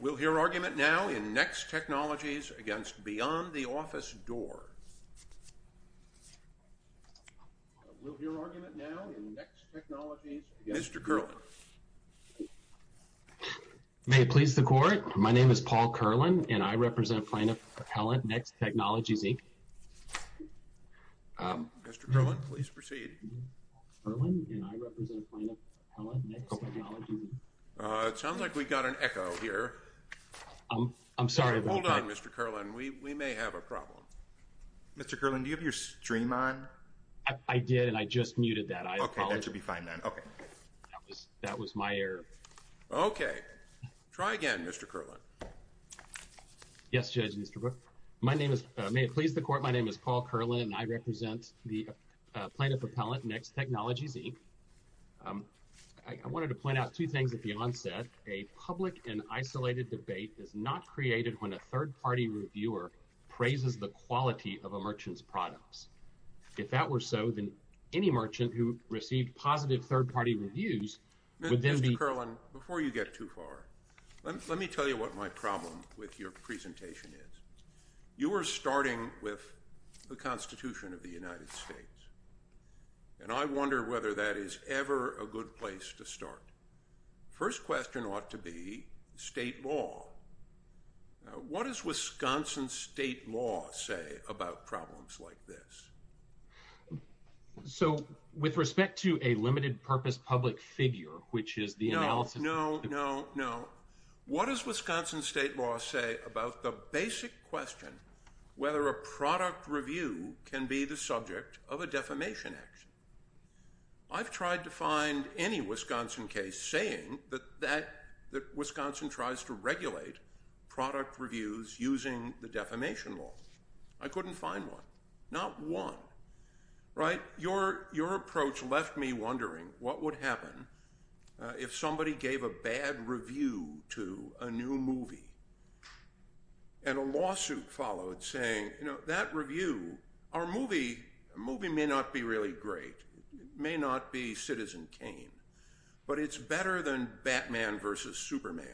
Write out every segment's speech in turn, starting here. We'll hear argument now in Next Technologies against Beyond the Office Door. Mr. Kerlin. May it please the court, my name is Paul Kerlin and I represent the plaintiff appellant, Next Technologies, Inc. I wanted to point out two things at a public and isolated debate is not created when a third-party reviewer praises the quality of a merchant's products. If that were so, then any merchant who received positive third-party reviews would then be… Mr. Kerlin, before you get too far, let me tell you what my problem with your presentation is. You were starting with the Constitution of the United States, and I wonder whether that is ever a good place to start. First question ought to be state law. What does Wisconsin state law say about problems like this? So, with respect to a limited-purpose public figure, which is the analysis… No, no, no, no. What does Wisconsin state law say about the basic question whether a product review can be the subject of a defamation action? I've tried to find any Wisconsin case saying that Wisconsin tries to regulate product reviews using the defamation law. I couldn't find one. Not one. Right? Your approach left me wondering what would happen if somebody gave a bad review to a new movie, and a lawsuit followed saying, you know, that review…our movie may not be really great. It may not be Citizen Kane, but it's better than Batman v. Superman,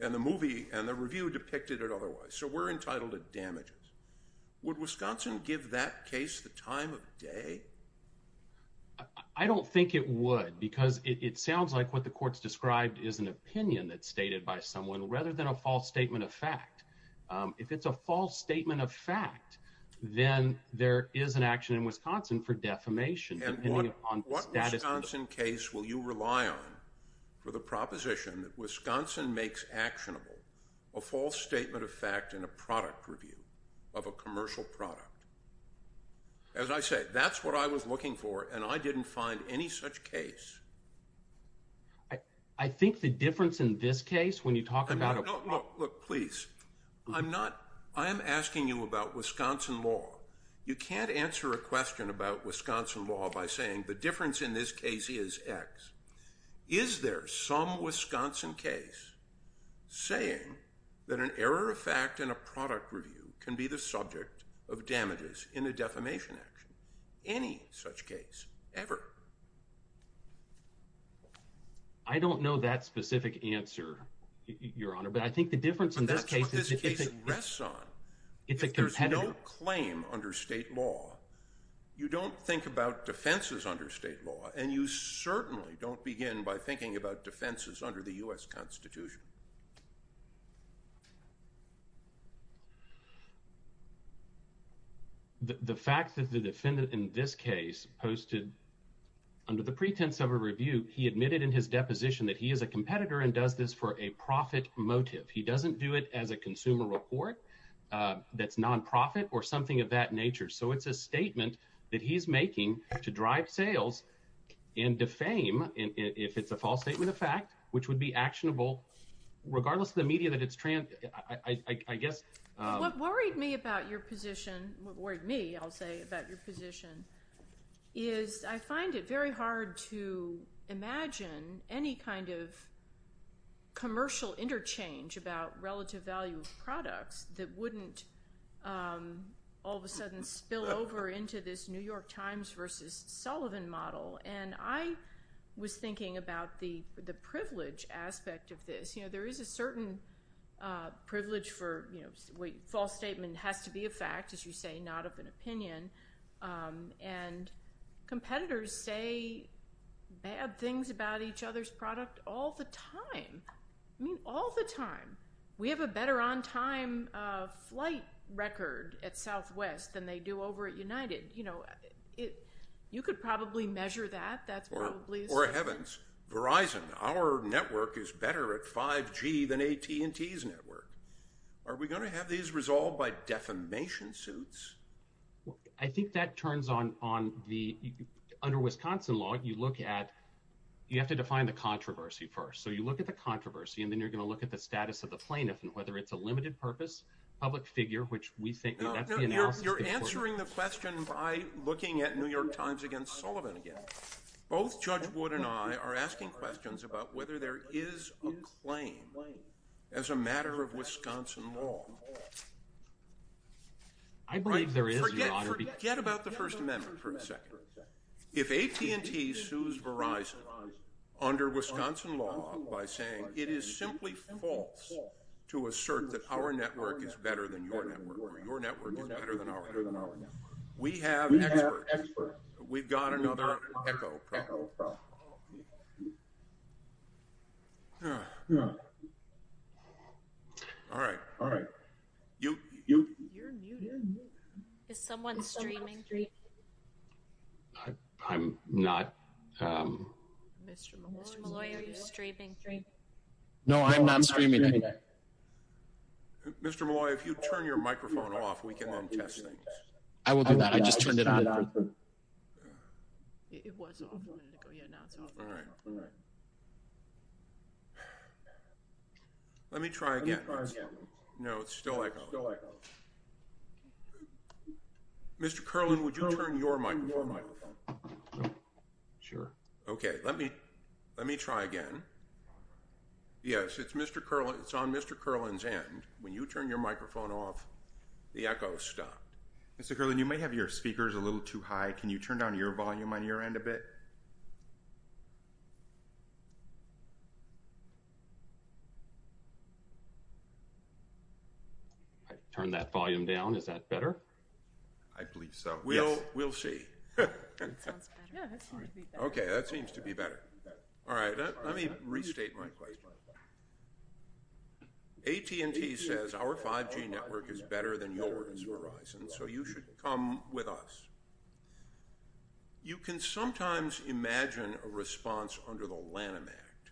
and the movie and the review depicted it otherwise. So, we're entitled to damages. Would Wisconsin give that case the time of day? I don't think it would, because it sounds like what the court's described is an opinion that's stated by someone, rather than a false statement of fact. If it's a false statement of fact, then there is an action in Wisconsin for defamation. And what Wisconsin case will you rely on for the proposition that Wisconsin makes actionable a false statement of fact in a product review of a commercial product? As I said, that's what I was looking for, and I didn't find any such case. I think the difference in this case, when you talk about… No, no, look, please. I'm not…I am asking you about Wisconsin law. You can't answer a question about Wisconsin law by saying, the difference in this case is X. Is there some Wisconsin case saying that an error of fact in a product review can be the subject of damages in a defamation action? Any such case, ever. I don't know that specific answer, Your Honor, but I think the difference in this case… But that's what this case rests on. It's a competitor. If there's no claim under state law, you don't think about defenses under state law, and you certainly don't begin by thinking about defenses under the U.S. Constitution. The fact that the defendant in this case posted, under the pretense of a review, he admitted in his deposition that he is a competitor and does this for a profit motive. He doesn't do it as a consumer report that's non-profit or something of that nature. So it's a statement that he's making to drive sales and defame if it's a false statement of fact, which would be actionable regardless of the media that it's…I guess… What worried me about your position…what worried me, I'll say, about your position is I find it very hard to imagine any kind of commercial interchange about relative value of products that wouldn't all of a sudden spill over into this New York Times versus Sullivan model. And I was thinking about the privilege aspect of this. You know, there is a certain privilege for, you know, false statement has to be a fact, as you say, not of an opinion. And competitors say bad things about each other's product all the time. I mean, all the time. We have a better on-time flight record at Southwest than they do over at United. You know, you could probably measure that. That's probably… Verizon, our network is better at 5G than AT&T's network. Are we going to have these resolved by defamation suits? I think that turns on the…under Wisconsin law, you look at…you have to define the controversy first. So you look at the controversy and then you're going to look at the status of the plaintiff and whether it's a limited purpose public figure, which we think… No, no, you're answering the question by looking at New York Times against Sullivan again. Both Judge Wood and I are asking questions about whether there is a claim as a matter of Wisconsin law. I believe there is, Your Honor. Forget about the First Amendment for a second. If AT&T sues Verizon under Wisconsin law by saying it is simply false to assert that our network is better than your network or your network. Echo. Echo. All right. All right. You're muted. Is someone streaming? I'm not. Mr. Malloy, are you streaming? No, I'm not streaming anything. Mr. Malloy, if you turn your microphone off, we can then test things. I will do that. I just turned it on. It was off a minute ago. Yeah, now it's off. All right. Let me try again. Let me try again. No, it's still echoing. It's still echoing. Mr. Kerlin, would you turn your microphone off? Sure. Okay. Let me try again. Yes, it's Mr. Kerlin. It's on Mr. Kerlin's end. When you turn your microphone off, the echo stopped. Mr. Kerlin, you may have your speakers a little too high. Can you turn down your volume on your end a bit? I turned that volume down. Is that better? I believe so. Yes. We'll see. Yeah, that seems to be better. Okay. That seems to be better. All right. Let me restate my point. AT&T says our 5G network is better than yours, Verizon, so you should come with us. You can sometimes imagine a response under the Lanham Act.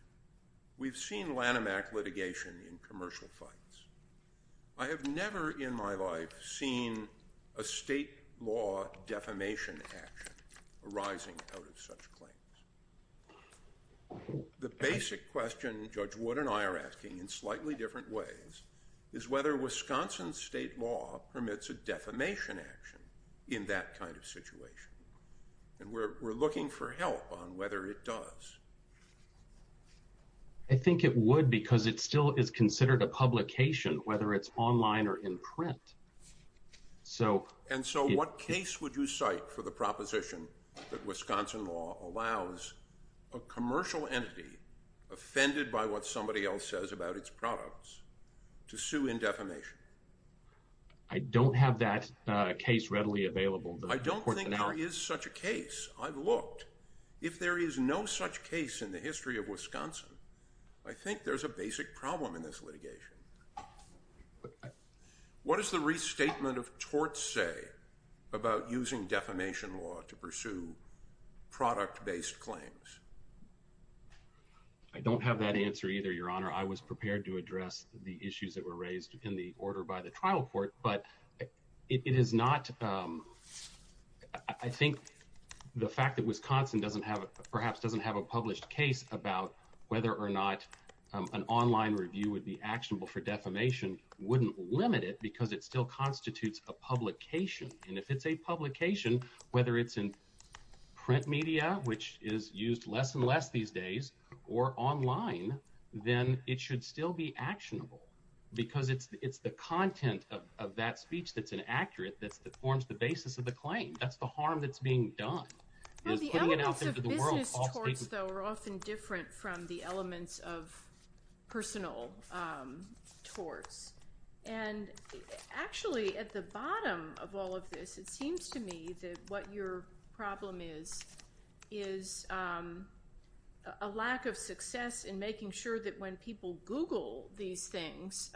We've seen Lanham Act litigation in commercial fights. I have never in my life seen a state law defamation action arising out of such claims. The basic question Judge Wood and I are asking in slightly different ways is whether Wisconsin state law permits a defamation action in that kind of situation. And we're looking for help on whether it does. I think it would because it still is considered a publication, whether it's online or in print. And so what case would you cite for the proposition that Wisconsin law allows a commercial entity offended by what somebody else says about its products to sue in defamation? I don't have that case readily available. I don't think there is such a case. I've looked. If there is no such case in the history of Wisconsin, I think there's a basic problem in this litigation. What does the restatement of torts say about using defamation law to pursue product-based claims? I don't have that answer either, Your Honor. I was prepared to address the issues that were raised in the order by the trial court, but it is not. I think the fact that Wisconsin doesn't have perhaps doesn't have a published case about whether or not an online review would be actionable for defamation wouldn't limit it because it still constitutes a publication. And if it's a publication, whether it's in print media, which is used less and less these days, or online, then it should still be actionable because it's the content of that speech that's an accurate, that forms the basis of the claim. That's the harm that's being done. The elements of business torts, though, are often different from the elements of personal torts. And actually, at the bottom of all of this, it seems to me that what your problem is, is a lack of success in making sure that when people Google these things,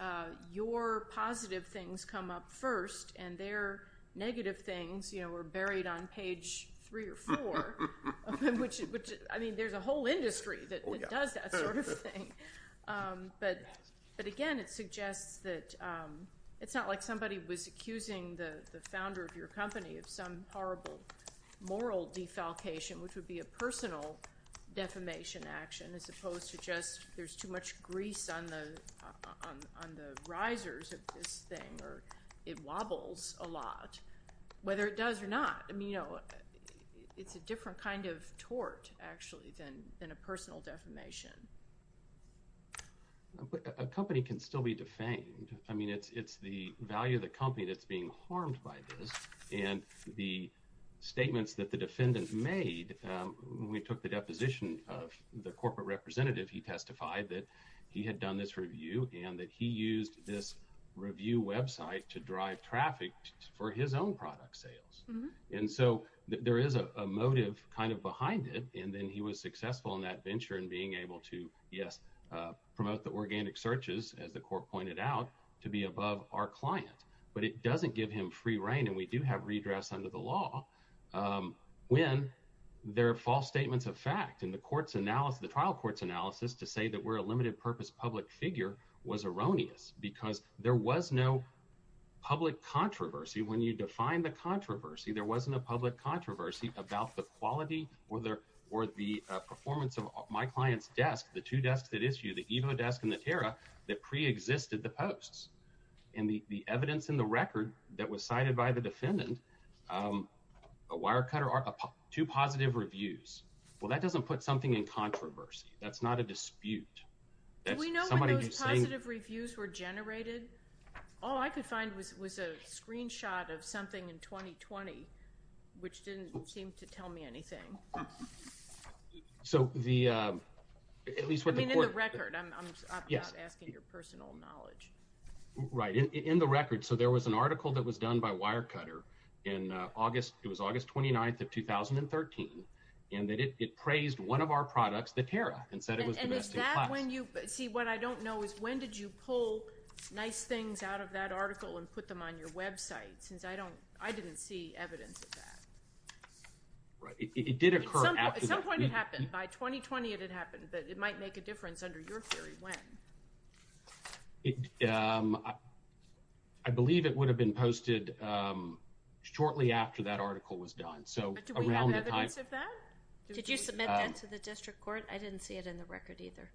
your positive things come up first, and their negative things are buried on page three or four. I mean, there's a whole industry that does that sort of thing. But again, it suggests that it's not like somebody was accusing the founder of your company of some horrible moral defalcation, which would be a personal defamation action, as opposed to just there's too much grease on the risers of this thing, or it wobbles a lot, whether it does or not. I mean, it's a different kind of tort, actually, than a personal defamation. A company can still be defamed. I mean, it's the value of the company that's being harmed by this. And the statements that the defendant made, when we took the deposition of the corporate representative, he testified that he had done this review and that he used this review website to drive traffic for his own product sales. And so there is a motive kind of behind it. And then he was successful in that venture in being able to, yes, promote the organic searches, as the court pointed out, to be above our client. But it doesn't give him free reign. And we do have redress under the law when there are false statements of fact. And the trial court's analysis to say that we're a limited purpose public figure was erroneous because there was no public controversy. When you define the controversy, there wasn't a public controversy about the quality or the performance of my client's desk, the two desks that issue, the Evo desk and the Terra, that preexisted the posts. And the evidence in the record that was cited by the defendant, a wire cutter, two positive reviews, well, that doesn't put something in controversy. That's not a dispute. Do we know when those positive reviews were generated? All I could find was a screenshot of something in 2020, which didn't seem to tell me anything. I mean, in the record. I'm not asking your personal knowledge. Right. In the record. So there was an article that was done by Wire Cutter in August. It was August 29th of 2013. And it praised one of our products, the Terra, and said it was the best in class. See, what I don't know is when did you pull nice things out of that article and put them on your website? Since I didn't see evidence of that. Right. It did occur after that. At some point it happened. By 2020 it had happened. But it might make a difference under your theory. When? I believe it would have been posted shortly after that article was done. But do we have evidence of that? Did you submit that to the district court? I didn't see it in the record either.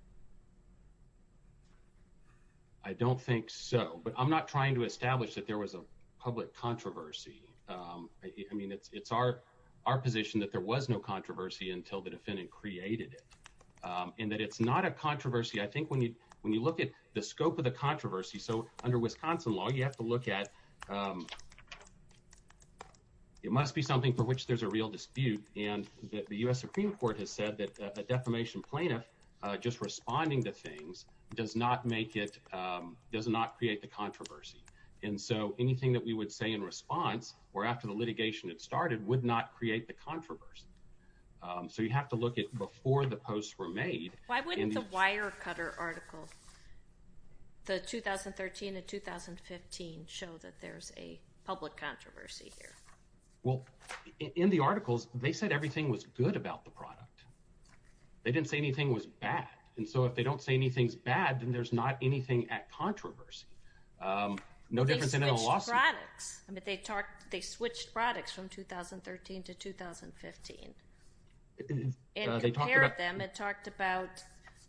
I don't think so. But I'm not trying to establish that there was a public controversy. I mean, it's our position that there was no controversy until the defendant created it. And that it's not a controversy. I think when you look at the scope of the controversy, so under Wisconsin law, you have to look at it must be something for which there's a real dispute. And the U.S. Supreme Court has said that a defamation plaintiff just responding to things does not make it, does not create the controversy. And so anything that we would say in response, or after the litigation had started, would not create the controversy. So you have to look at before the posts were made. Why wouldn't the Wirecutter article, the 2013 and 2015, show that there's a public controversy here? Well, in the articles, they said everything was good about the product. They didn't say anything was bad. And so if they don't say anything's bad, then there's not anything at controversy. No difference in a lawsuit. They switched products. I mean, they switched products from 2013 to 2015. It compared them. It talked about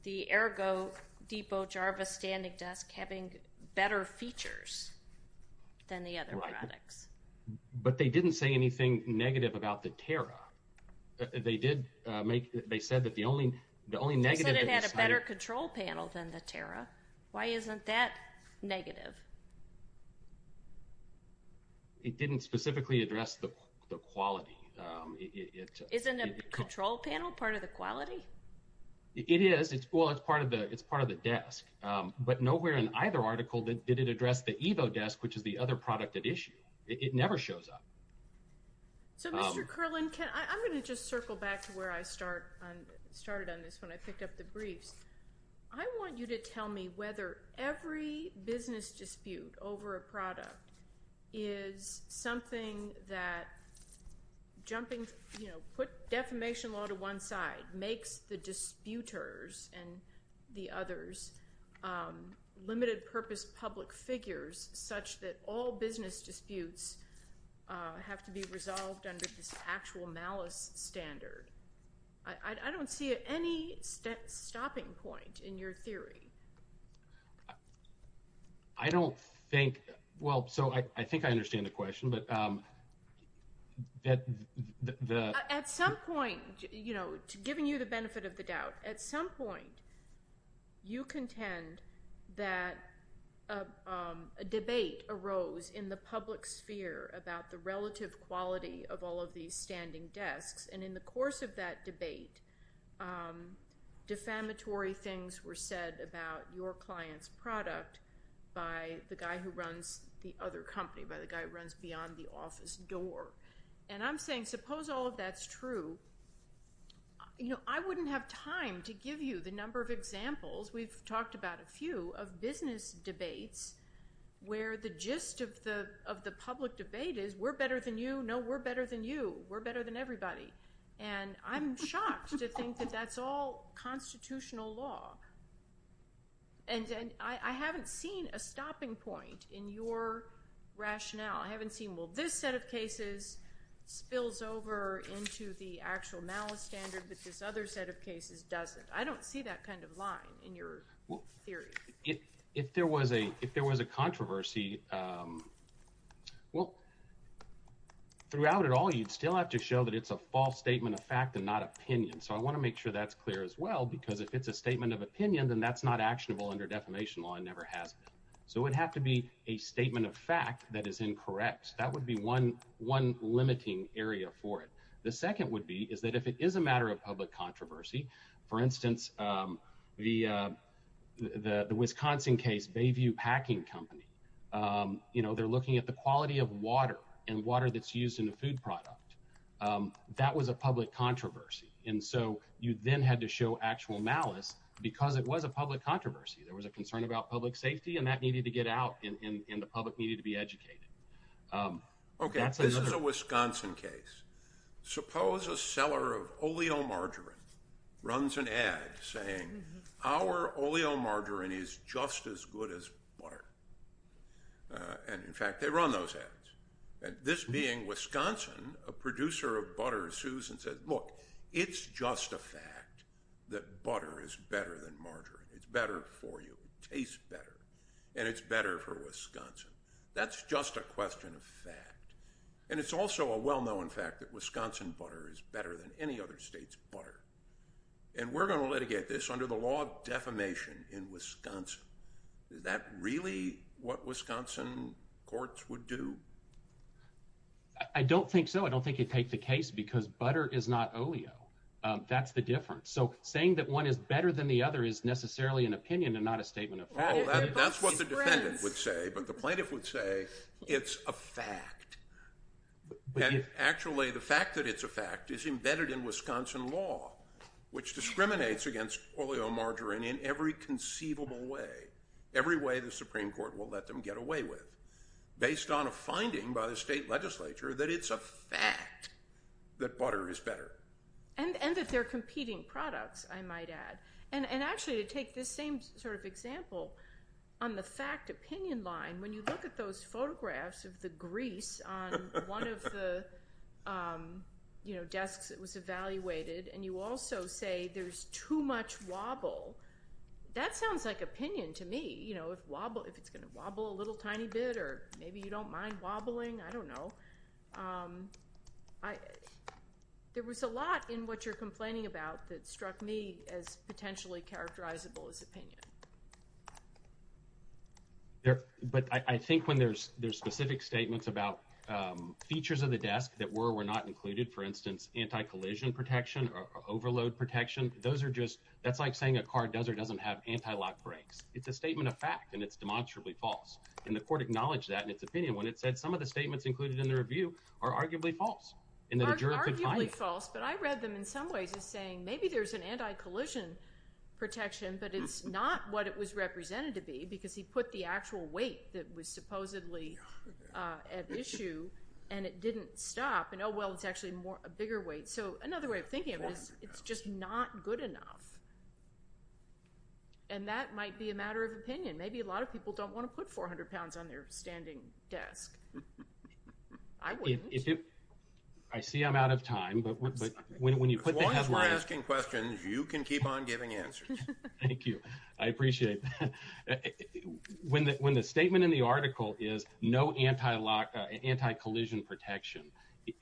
the Ergo Depot Jarvis standing desk having better features than the other products. Right. But they didn't say anything negative about the Terra. They did make, they said that the only negative they decided. They said it had a better control panel than the Terra. Why isn't that negative? It didn't specifically address the quality. Isn't a control panel part of the quality? It is. Well, it's part of the desk. But nowhere in either article did it address the Evo desk, which is the other product at issue. It never shows up. So, Mr. Curlin, I'm going to just circle back to where I started on this when I picked up the briefs. I want you to tell me whether every business dispute over a product is something that jumping, you know, put defamation law to one side makes the disputers and the others limited purpose public figures such that all business disputes have to be resolved under this actual malice standard. I don't see any stopping point in your theory. I don't think, well, so I think I understand the question. At some point, you know, giving you the benefit of the doubt, at some point, you contend that a debate arose in the public sphere about the relative quality of all of these standing desks. And in the course of that debate, defamatory things were said about your client's product by the guy who runs the other company, by the guy who runs beyond the office door. And I'm saying, suppose all of that's true. You know, I wouldn't have time to give you the number of examples. We've talked about a few of business debates where the gist of the public debate is we're better than you. No, we're better than you. We're better than everybody. And I'm shocked to think that that's all constitutional law. And I haven't seen a stopping point in your rationale. I haven't seen, well, this set of cases spills over into the actual malice standard, but this other set of cases doesn't. I don't see that kind of line in your theory. If there was a controversy, well, throughout it all, you'd still have to show that it's a false statement of fact and not opinion. So I want to make sure that's clear as well, because if it's a statement of opinion, then that's not actionable under defamation law and never has been. So it would have to be a statement of fact that is incorrect. That would be one limiting area for it. The second would be is that if it is a matter of public controversy, for instance, the Wisconsin case, Bayview Packing Company, they're looking at the quality of water and water that's used in a food product. That was a public controversy. And so you then had to show actual malice because it was a public controversy. There was a concern about public safety and that needed to get out and the public needed to be educated. Okay, this is a Wisconsin case. Suppose a seller of oleomargarine runs an ad saying, our oleomargarine is just as good as butter. And, in fact, they run those ads. And this being Wisconsin, a producer of butter, sues and says, look, it's just a fact that butter is better than margarine. It's better for you. It tastes better. And it's better for Wisconsin. That's just a question of fact. And it's also a well-known fact that Wisconsin butter is better than any other state's butter. And we're going to litigate this under the law of defamation in Wisconsin. Is that really what Wisconsin courts would do? I don't think so. I don't think you'd take the case because butter is not oleo. That's the difference. So saying that one is better than the other is necessarily an opinion and not a statement of fact. No, that's what the defendant would say. But the plaintiff would say it's a fact. And, actually, the fact that it's a fact is embedded in Wisconsin law, which discriminates against oleomargarine in every conceivable way, every way the Supreme Court will let them get away with, based on a finding by the state legislature that it's a fact that butter is better. And that they're competing products, I might add. And, actually, to take this same sort of example on the fact opinion line, when you look at those photographs of the grease on one of the desks that was evaluated and you also say there's too much wobble, that sounds like opinion to me, if it's going to wobble a little tiny bit or maybe you don't mind wobbling. I don't know. There was a lot in what you're complaining about that struck me as potentially characterizable as opinion. But I think when there's specific statements about features of the desk that were or were not included, for instance, anti-collision protection or overload protection, that's like saying a car does or doesn't have anti-lock brakes. It's a statement of fact, and it's demonstrably false. And the court acknowledged that in its opinion when it said some of the statements included in the review are arguably false. Arguably false, but I read them in some ways as saying maybe there's an anti-collision protection, but it's not what it was represented to be because he put the actual weight that was supposedly at issue and it didn't stop and, oh, well, it's actually a bigger weight. So another way of thinking of it is it's just not good enough. And that might be a matter of opinion. Maybe a lot of people don't want to put 400 pounds on their standing desk. I wouldn't. I see I'm out of time. As long as we're asking questions, you can keep on giving answers. Thank you. I appreciate that. When the statement in the article is no anti-collision protection,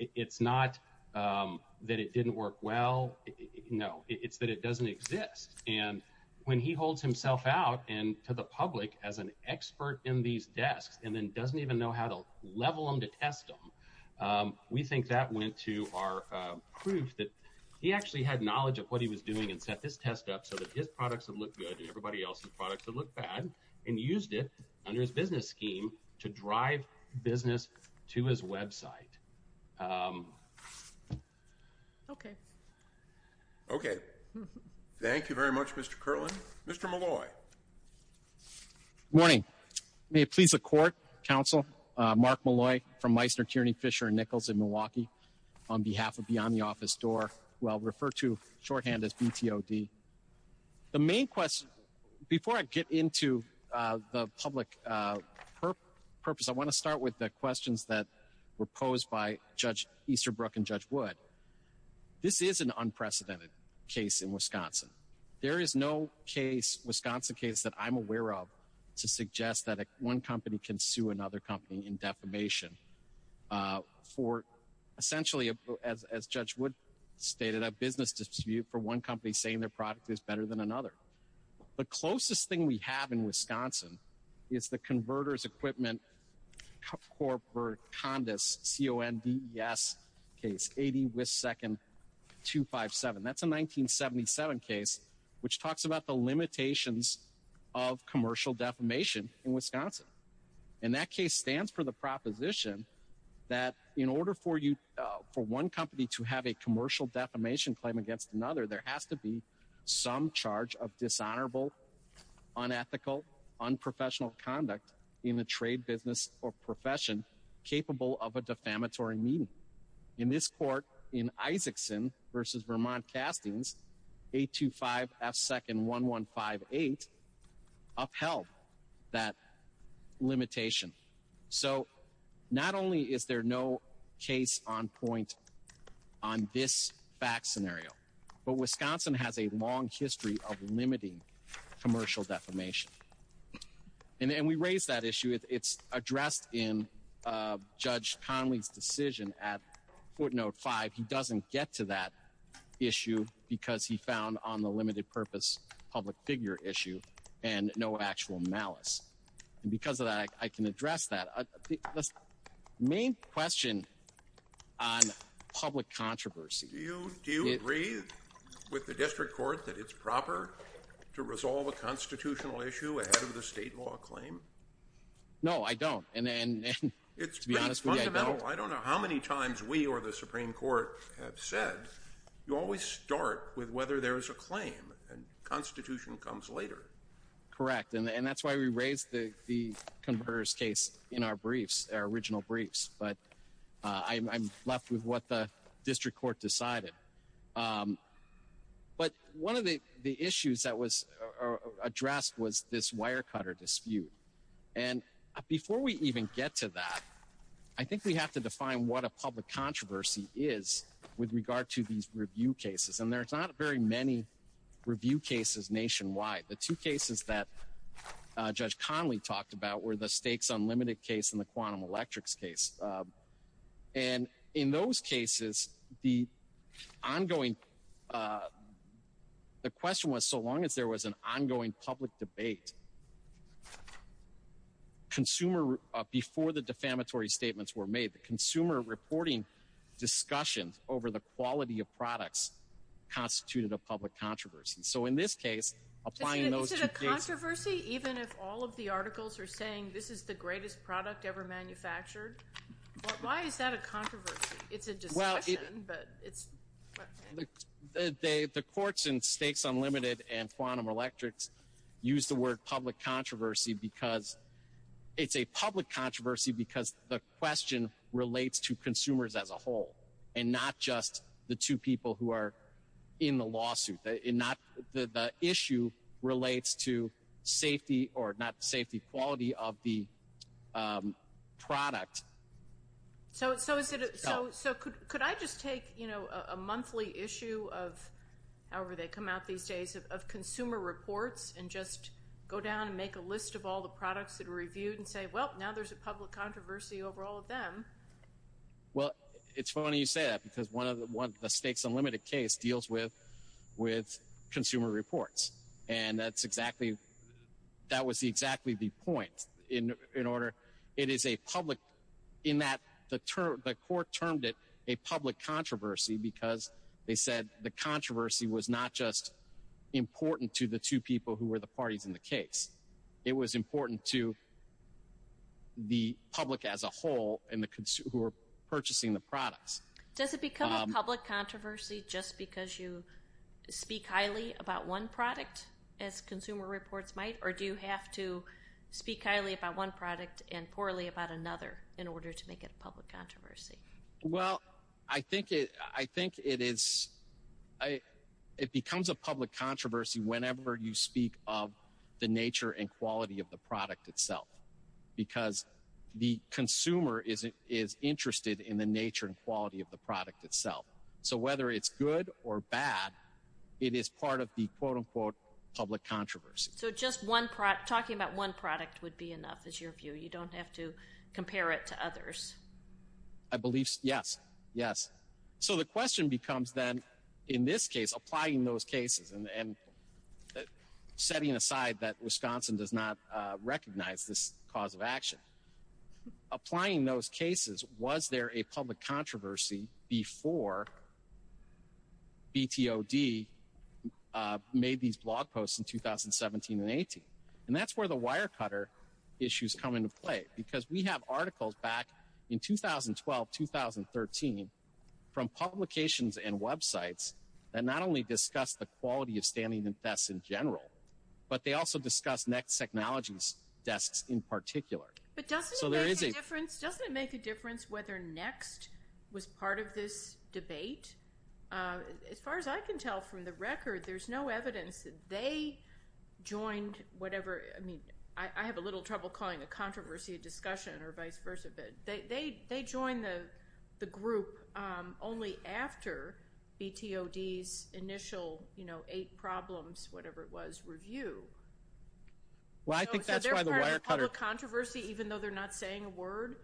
it's not that it didn't work well. No, it's that it doesn't exist. And when he holds himself out to the public as an expert in these desks and then doesn't even know how to level them to test them, we think that went to our proof that he actually had knowledge of what he was doing and set this test up so that his products would look good and everybody else's products would look bad and used it under his business scheme to drive business to his website. Okay. Okay. Thank you very much, Mr. Kerlin. Mr. Molloy. Good morning. May it please the Court, Counsel Mark Molloy from Meissner, Tierney, Fisher & Nichols in Milwaukee, on behalf of Beyond the Office Door, who I'll refer to shorthand as BTOD. The main question, before I get into the public purpose, I want to start with the questions that were posed by Judge Easterbrook and Judge Wood. This is an unprecedented case in Wisconsin. There is no Wisconsin case that I'm aware of to suggest that one company can sue another company in defamation for, essentially, as Judge Wood stated, a business dispute for one company saying their product is better than another. The closest thing we have in Wisconsin is the Converter's Equipment Corporate Condes, C-O-N-D-E-S case, 80 Whist Second 257. That's a 1977 case which talks about the limitations of commercial defamation in Wisconsin. And that case stands for the proposition that in order for one company to have a commercial defamation claim against another, there has to be some charge of dishonorable, unethical, unprofessional conduct in the trade business or profession capable of a defamatory meaning. In this court, in Isaacson v. Vermont Castings, 825 F. Second 1158, upheld that limitation. So, not only is there no case on point on this fact scenario, but Wisconsin has a long history of limiting commercial defamation. And we raise that issue. It's addressed in Judge Conley's decision at footnote 5. He doesn't get to that issue because he found on the limited purpose public figure issue and no actual malice. And because of that, I can address that. The main question on public controversy. Do you agree with the district court that it's proper to resolve a constitutional issue ahead of the state law claim? No, I don't. And to be honest with you, I don't. It's pretty fundamental. I don't know how many times we or the Supreme Court have said you always start with whether there is a claim and constitution comes later. Correct. And that's why we raised the converse case in our briefs, our original briefs. But I'm left with what the district court decided. But one of the issues that was addressed was this wire cutter dispute. And before we even get to that, I think we have to define what a public controversy is with regard to these review cases. And there's not very many review cases nationwide. The two cases that Judge Conley talked about were the stakes unlimited case and the quantum electrics case. And in those cases, the ongoing. The question was, so long as there was an ongoing public debate. Consumer before the defamatory statements were made, the consumer reporting discussions over the quality of products constituted a public controversy. So in this case, applying those controversy, even if all of the articles are saying this is the greatest product ever manufactured. Why is that a controversy? It's a. Well, it's the courts and stakes unlimited and quantum electrics use the word public controversy because it's a public controversy, because the question relates to consumers as a whole and not just the two people who are in the lawsuit, not the issue relates to safety or not safety, quality of the product. So so is it so? So could could I just take, you know, a monthly issue of however, they come out these days of consumer reports and just go down and make a list of all the products that are reviewed and say, well, now there's a public controversy over all of them. Well, it's funny you say that, because one of the stakes unlimited case deals with with consumer reports. And that's exactly that was exactly the point in order. It is a public in that the the court termed it a public controversy because they said the controversy was not just important to the two people who were the parties in the case. It was important to. The public as a whole and the consumer purchasing the products, does it become a public controversy just because you speak highly about one product as consumer reports might, or do you have to speak highly about one product and poorly about another in order to make it a public controversy? Well, I think I think it is. It becomes a public controversy whenever you speak of the nature and quality of the product itself, because the consumer is is interested in the nature and quality of the product itself. So whether it's good or bad, it is part of the, quote, unquote, public controversy. So just one product talking about one product would be enough. It's your view. You don't have to compare it to others. I believe. Yes. Yes. So the question becomes, then, in this case, applying those cases and setting aside that Wisconsin does not recognize this cause of action, applying those cases. Was there a public controversy before? B.T.O.D. made these blog posts in 2017 and 18, and that's where the wire cutter issues come into play, because we have articles back in 2012, 2013, from publications and Web sites that not only discuss the quality of standing in tests in general, but they also discuss next technologies tests in particular. So there is a difference. Doesn't it make a difference whether next was part of this debate? As far as I can tell from the record, there's no evidence that they joined whatever. I mean, I have a little trouble calling a controversy a discussion or vice versa. But they joined the group only after B.T.O.D.'s initial, you know, eight problems, whatever it was, review. Well, I think that's why the wire cutter. So they're part of the public controversy, even though they're not saying a word?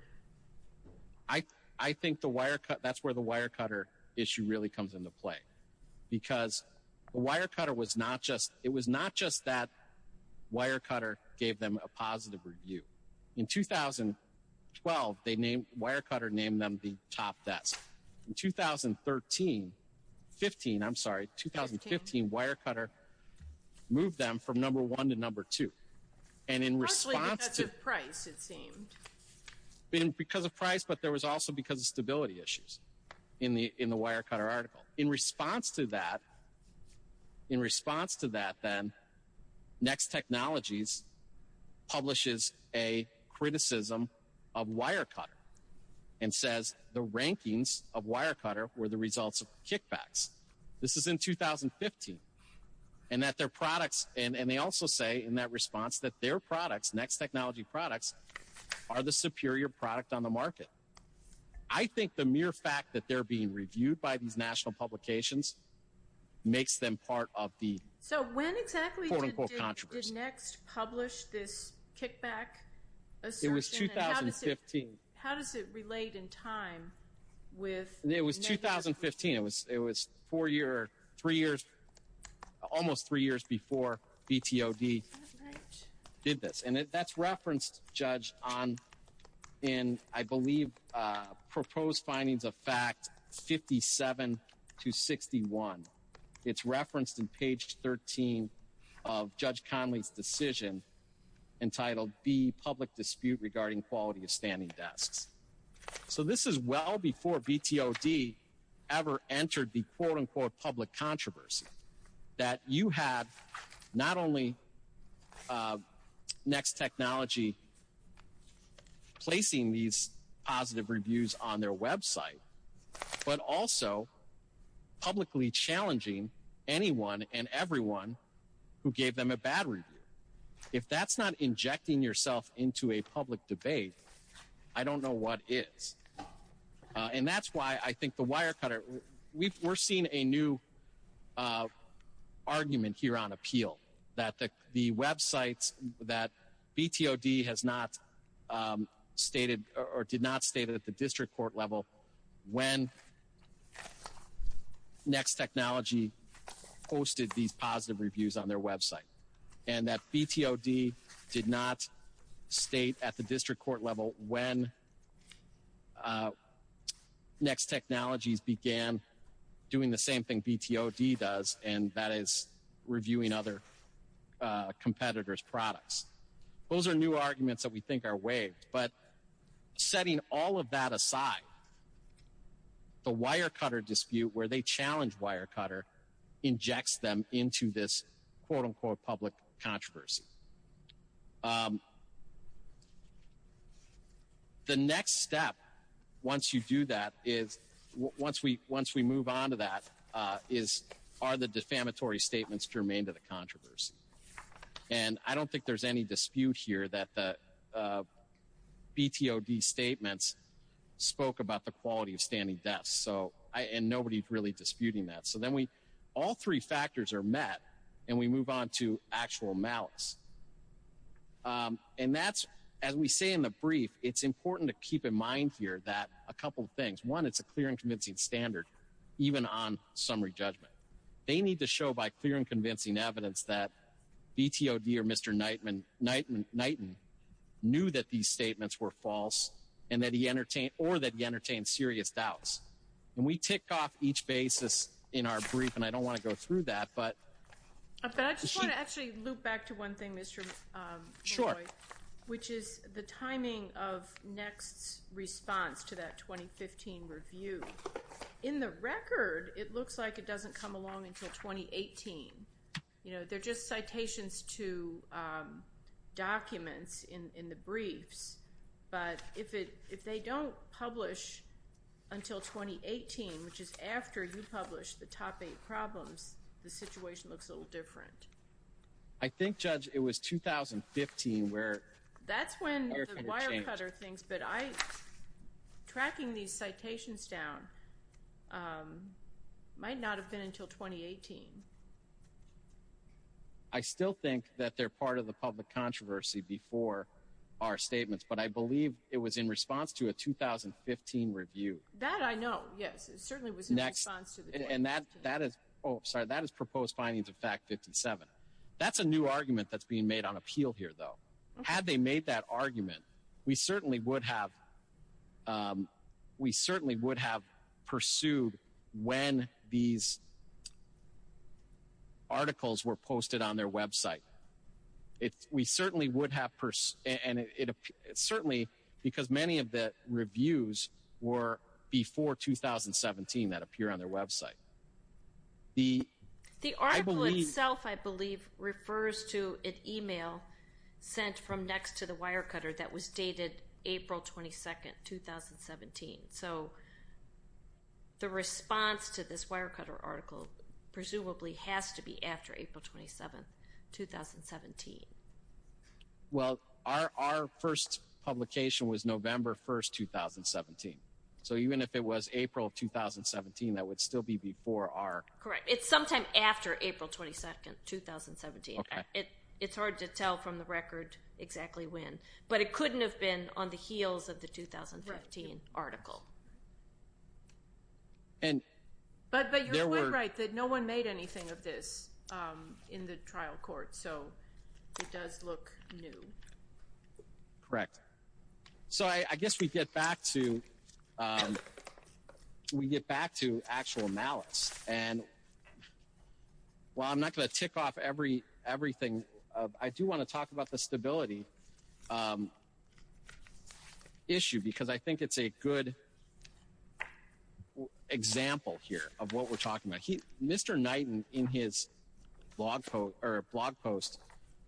I think that's where the wire cutter issue really comes into play, because the wire cutter was not just it was not just that wire cutter gave them a positive review in 2012. They named wire cutter, named them the top desk in 2013, 15. I'm sorry, 2015 wire cutter moved them from number one to number two. And in response to price, it seemed because of price. But there was also because of stability issues in the in the wire cutter article in response to that. In response to that, then next technologies publishes a criticism of wire cutter and says the rankings of wire cutter were the results of kickbacks. This is in 2015 and that their products. And they also say in that response that their products, next technology products, are the superior product on the market. I think the mere fact that they're being reviewed by these national publications makes them part of the quote unquote controversy. So when exactly did next publish this kickback assertion? It was 2015. How does it relate in time with? It was 2015. It was it was four year, three years, almost three years before BTOB did this. And that's referenced, Judge, on in, I believe, proposed findings of fact 57 to 61. It's referenced in page 13 of Judge Conley's decision entitled the public dispute regarding quality of standing desks. So this is well before BTOB ever entered the quote unquote public controversy that you have not only next technology placing these positive reviews on their Web site, but also publicly challenging anyone and everyone who gave them a battery. If that's not injecting yourself into a public debate, I don't know what is. And that's why I think the wire cutter we've we're seeing a new argument here on appeal that the Web sites that BTOB has not stated or did not state at the district court level. When next technology posted these positive reviews on their Web site and that BTOB did not state at the district court level when next technologies began doing the same thing BTOB does, and that is reviewing other competitors products. Those are new arguments that we think are waived. But setting all of that aside, the wire cutter dispute where they challenge wire cutter injects them into this quote unquote public controversy. The next step once you do that is once we once we move on to that is are the defamatory statements germane to the controversy. And I don't think there's any dispute here that the BTOB statements spoke about the quality of standing desk. So I and nobody's really disputing that. So then we all three factors are met and we move on to actual malice. And that's as we say in the brief, it's important to keep in mind here that a couple of things. One, it's a clear and convincing standard, even on summary judgment. They need to show by clear and convincing evidence that BTOB or Mr. Knightman, Knightman, Knightman knew that these statements were false and that he entertained or that he entertained serious doubts. And we tick off each basis in our brief. And I don't want to go through that. But I just want to actually loop back to one thing, Mr. Short, which is the timing of next response to that 2015 review. In the record, it looks like it doesn't come along until 2018. You know, they're just citations to documents in the briefs. But if it if they don't publish until 2018, which is after you publish the topic problems, the situation looks a little different. I think, Judge, it was 2015 where that's when the wire cutter things. But I tracking these citations down might not have been until 2018. I still think that they're part of the public controversy before our statements. But I believe it was in response to a 2015 review that I know. Yes, it certainly was next. And that that is. Oh, sorry. That is proposed findings. In fact, 57. That's a new argument that's being made on appeal here, though. Had they made that argument, we certainly would have. We certainly would have pursued when these. Articles were posted on their Web site. We certainly would have. And it's certainly because many of the reviews were before 2017 that appear on their Web site. The the article itself, I believe, refers to an email sent from next to the wire cutter that was dated April 22nd, 2017. So the response to this wire cutter article presumably has to be after April 27th, 2017. Well, our first publication was November 1st, 2017. So even if it was April of 2017, that would still be before our. Correct. It's sometime after April 22nd, 2017. It's hard to tell from the record exactly when. But it couldn't have been on the heels of the 2013 article. And. But but you're right that no one made anything of this in the trial court. So it does look new. Correct. So I guess we get back to we get back to actual malice. And. Well, I'm not going to tick off every everything. I do want to talk about the stability issue because I think it's a good example here of what we're talking about. He Mr. Knighton in his blog post or blog post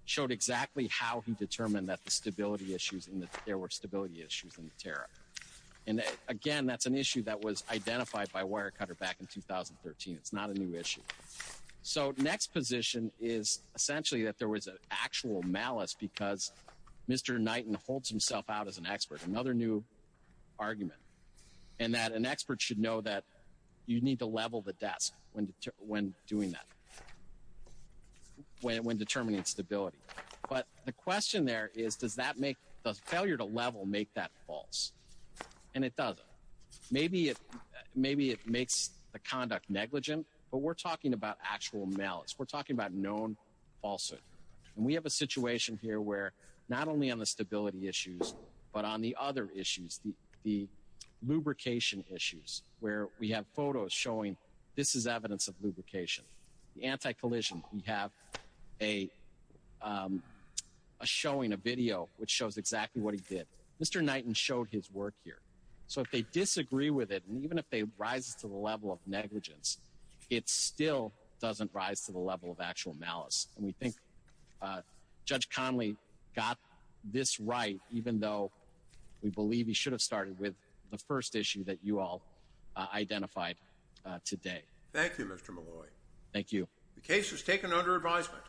showed exactly how he determined that the stability issues and that there were stability issues in the terror. And again, that's an issue that was identified by Wirecutter back in 2013. It's not a new issue. So next position is essentially that there was an actual malice because Mr. Knighton holds himself out as an expert. Another new argument and that an expert should know that you need to level the desk when when doing that. When determining stability. But the question there is, does that make the failure to level make that false? And it does. Maybe it maybe it makes the conduct negligent. But we're talking about actual malice. We're talking about known falsehood. And we have a situation here where not only on the stability issues, but on the other issues, the the lubrication issues where we have photos showing this is evidence of lubrication. The anti collision. We have a showing a video which shows exactly what he did. Mr. Knighton showed his work here. So if they disagree with it and even if they rise to the level of negligence, it still doesn't rise to the level of actual malice. And we think Judge Conley got this right, even though we believe he should have started with the first issue that you all identified today. Thank you, Mr. Malloy. Thank you. The case is taken under advisement.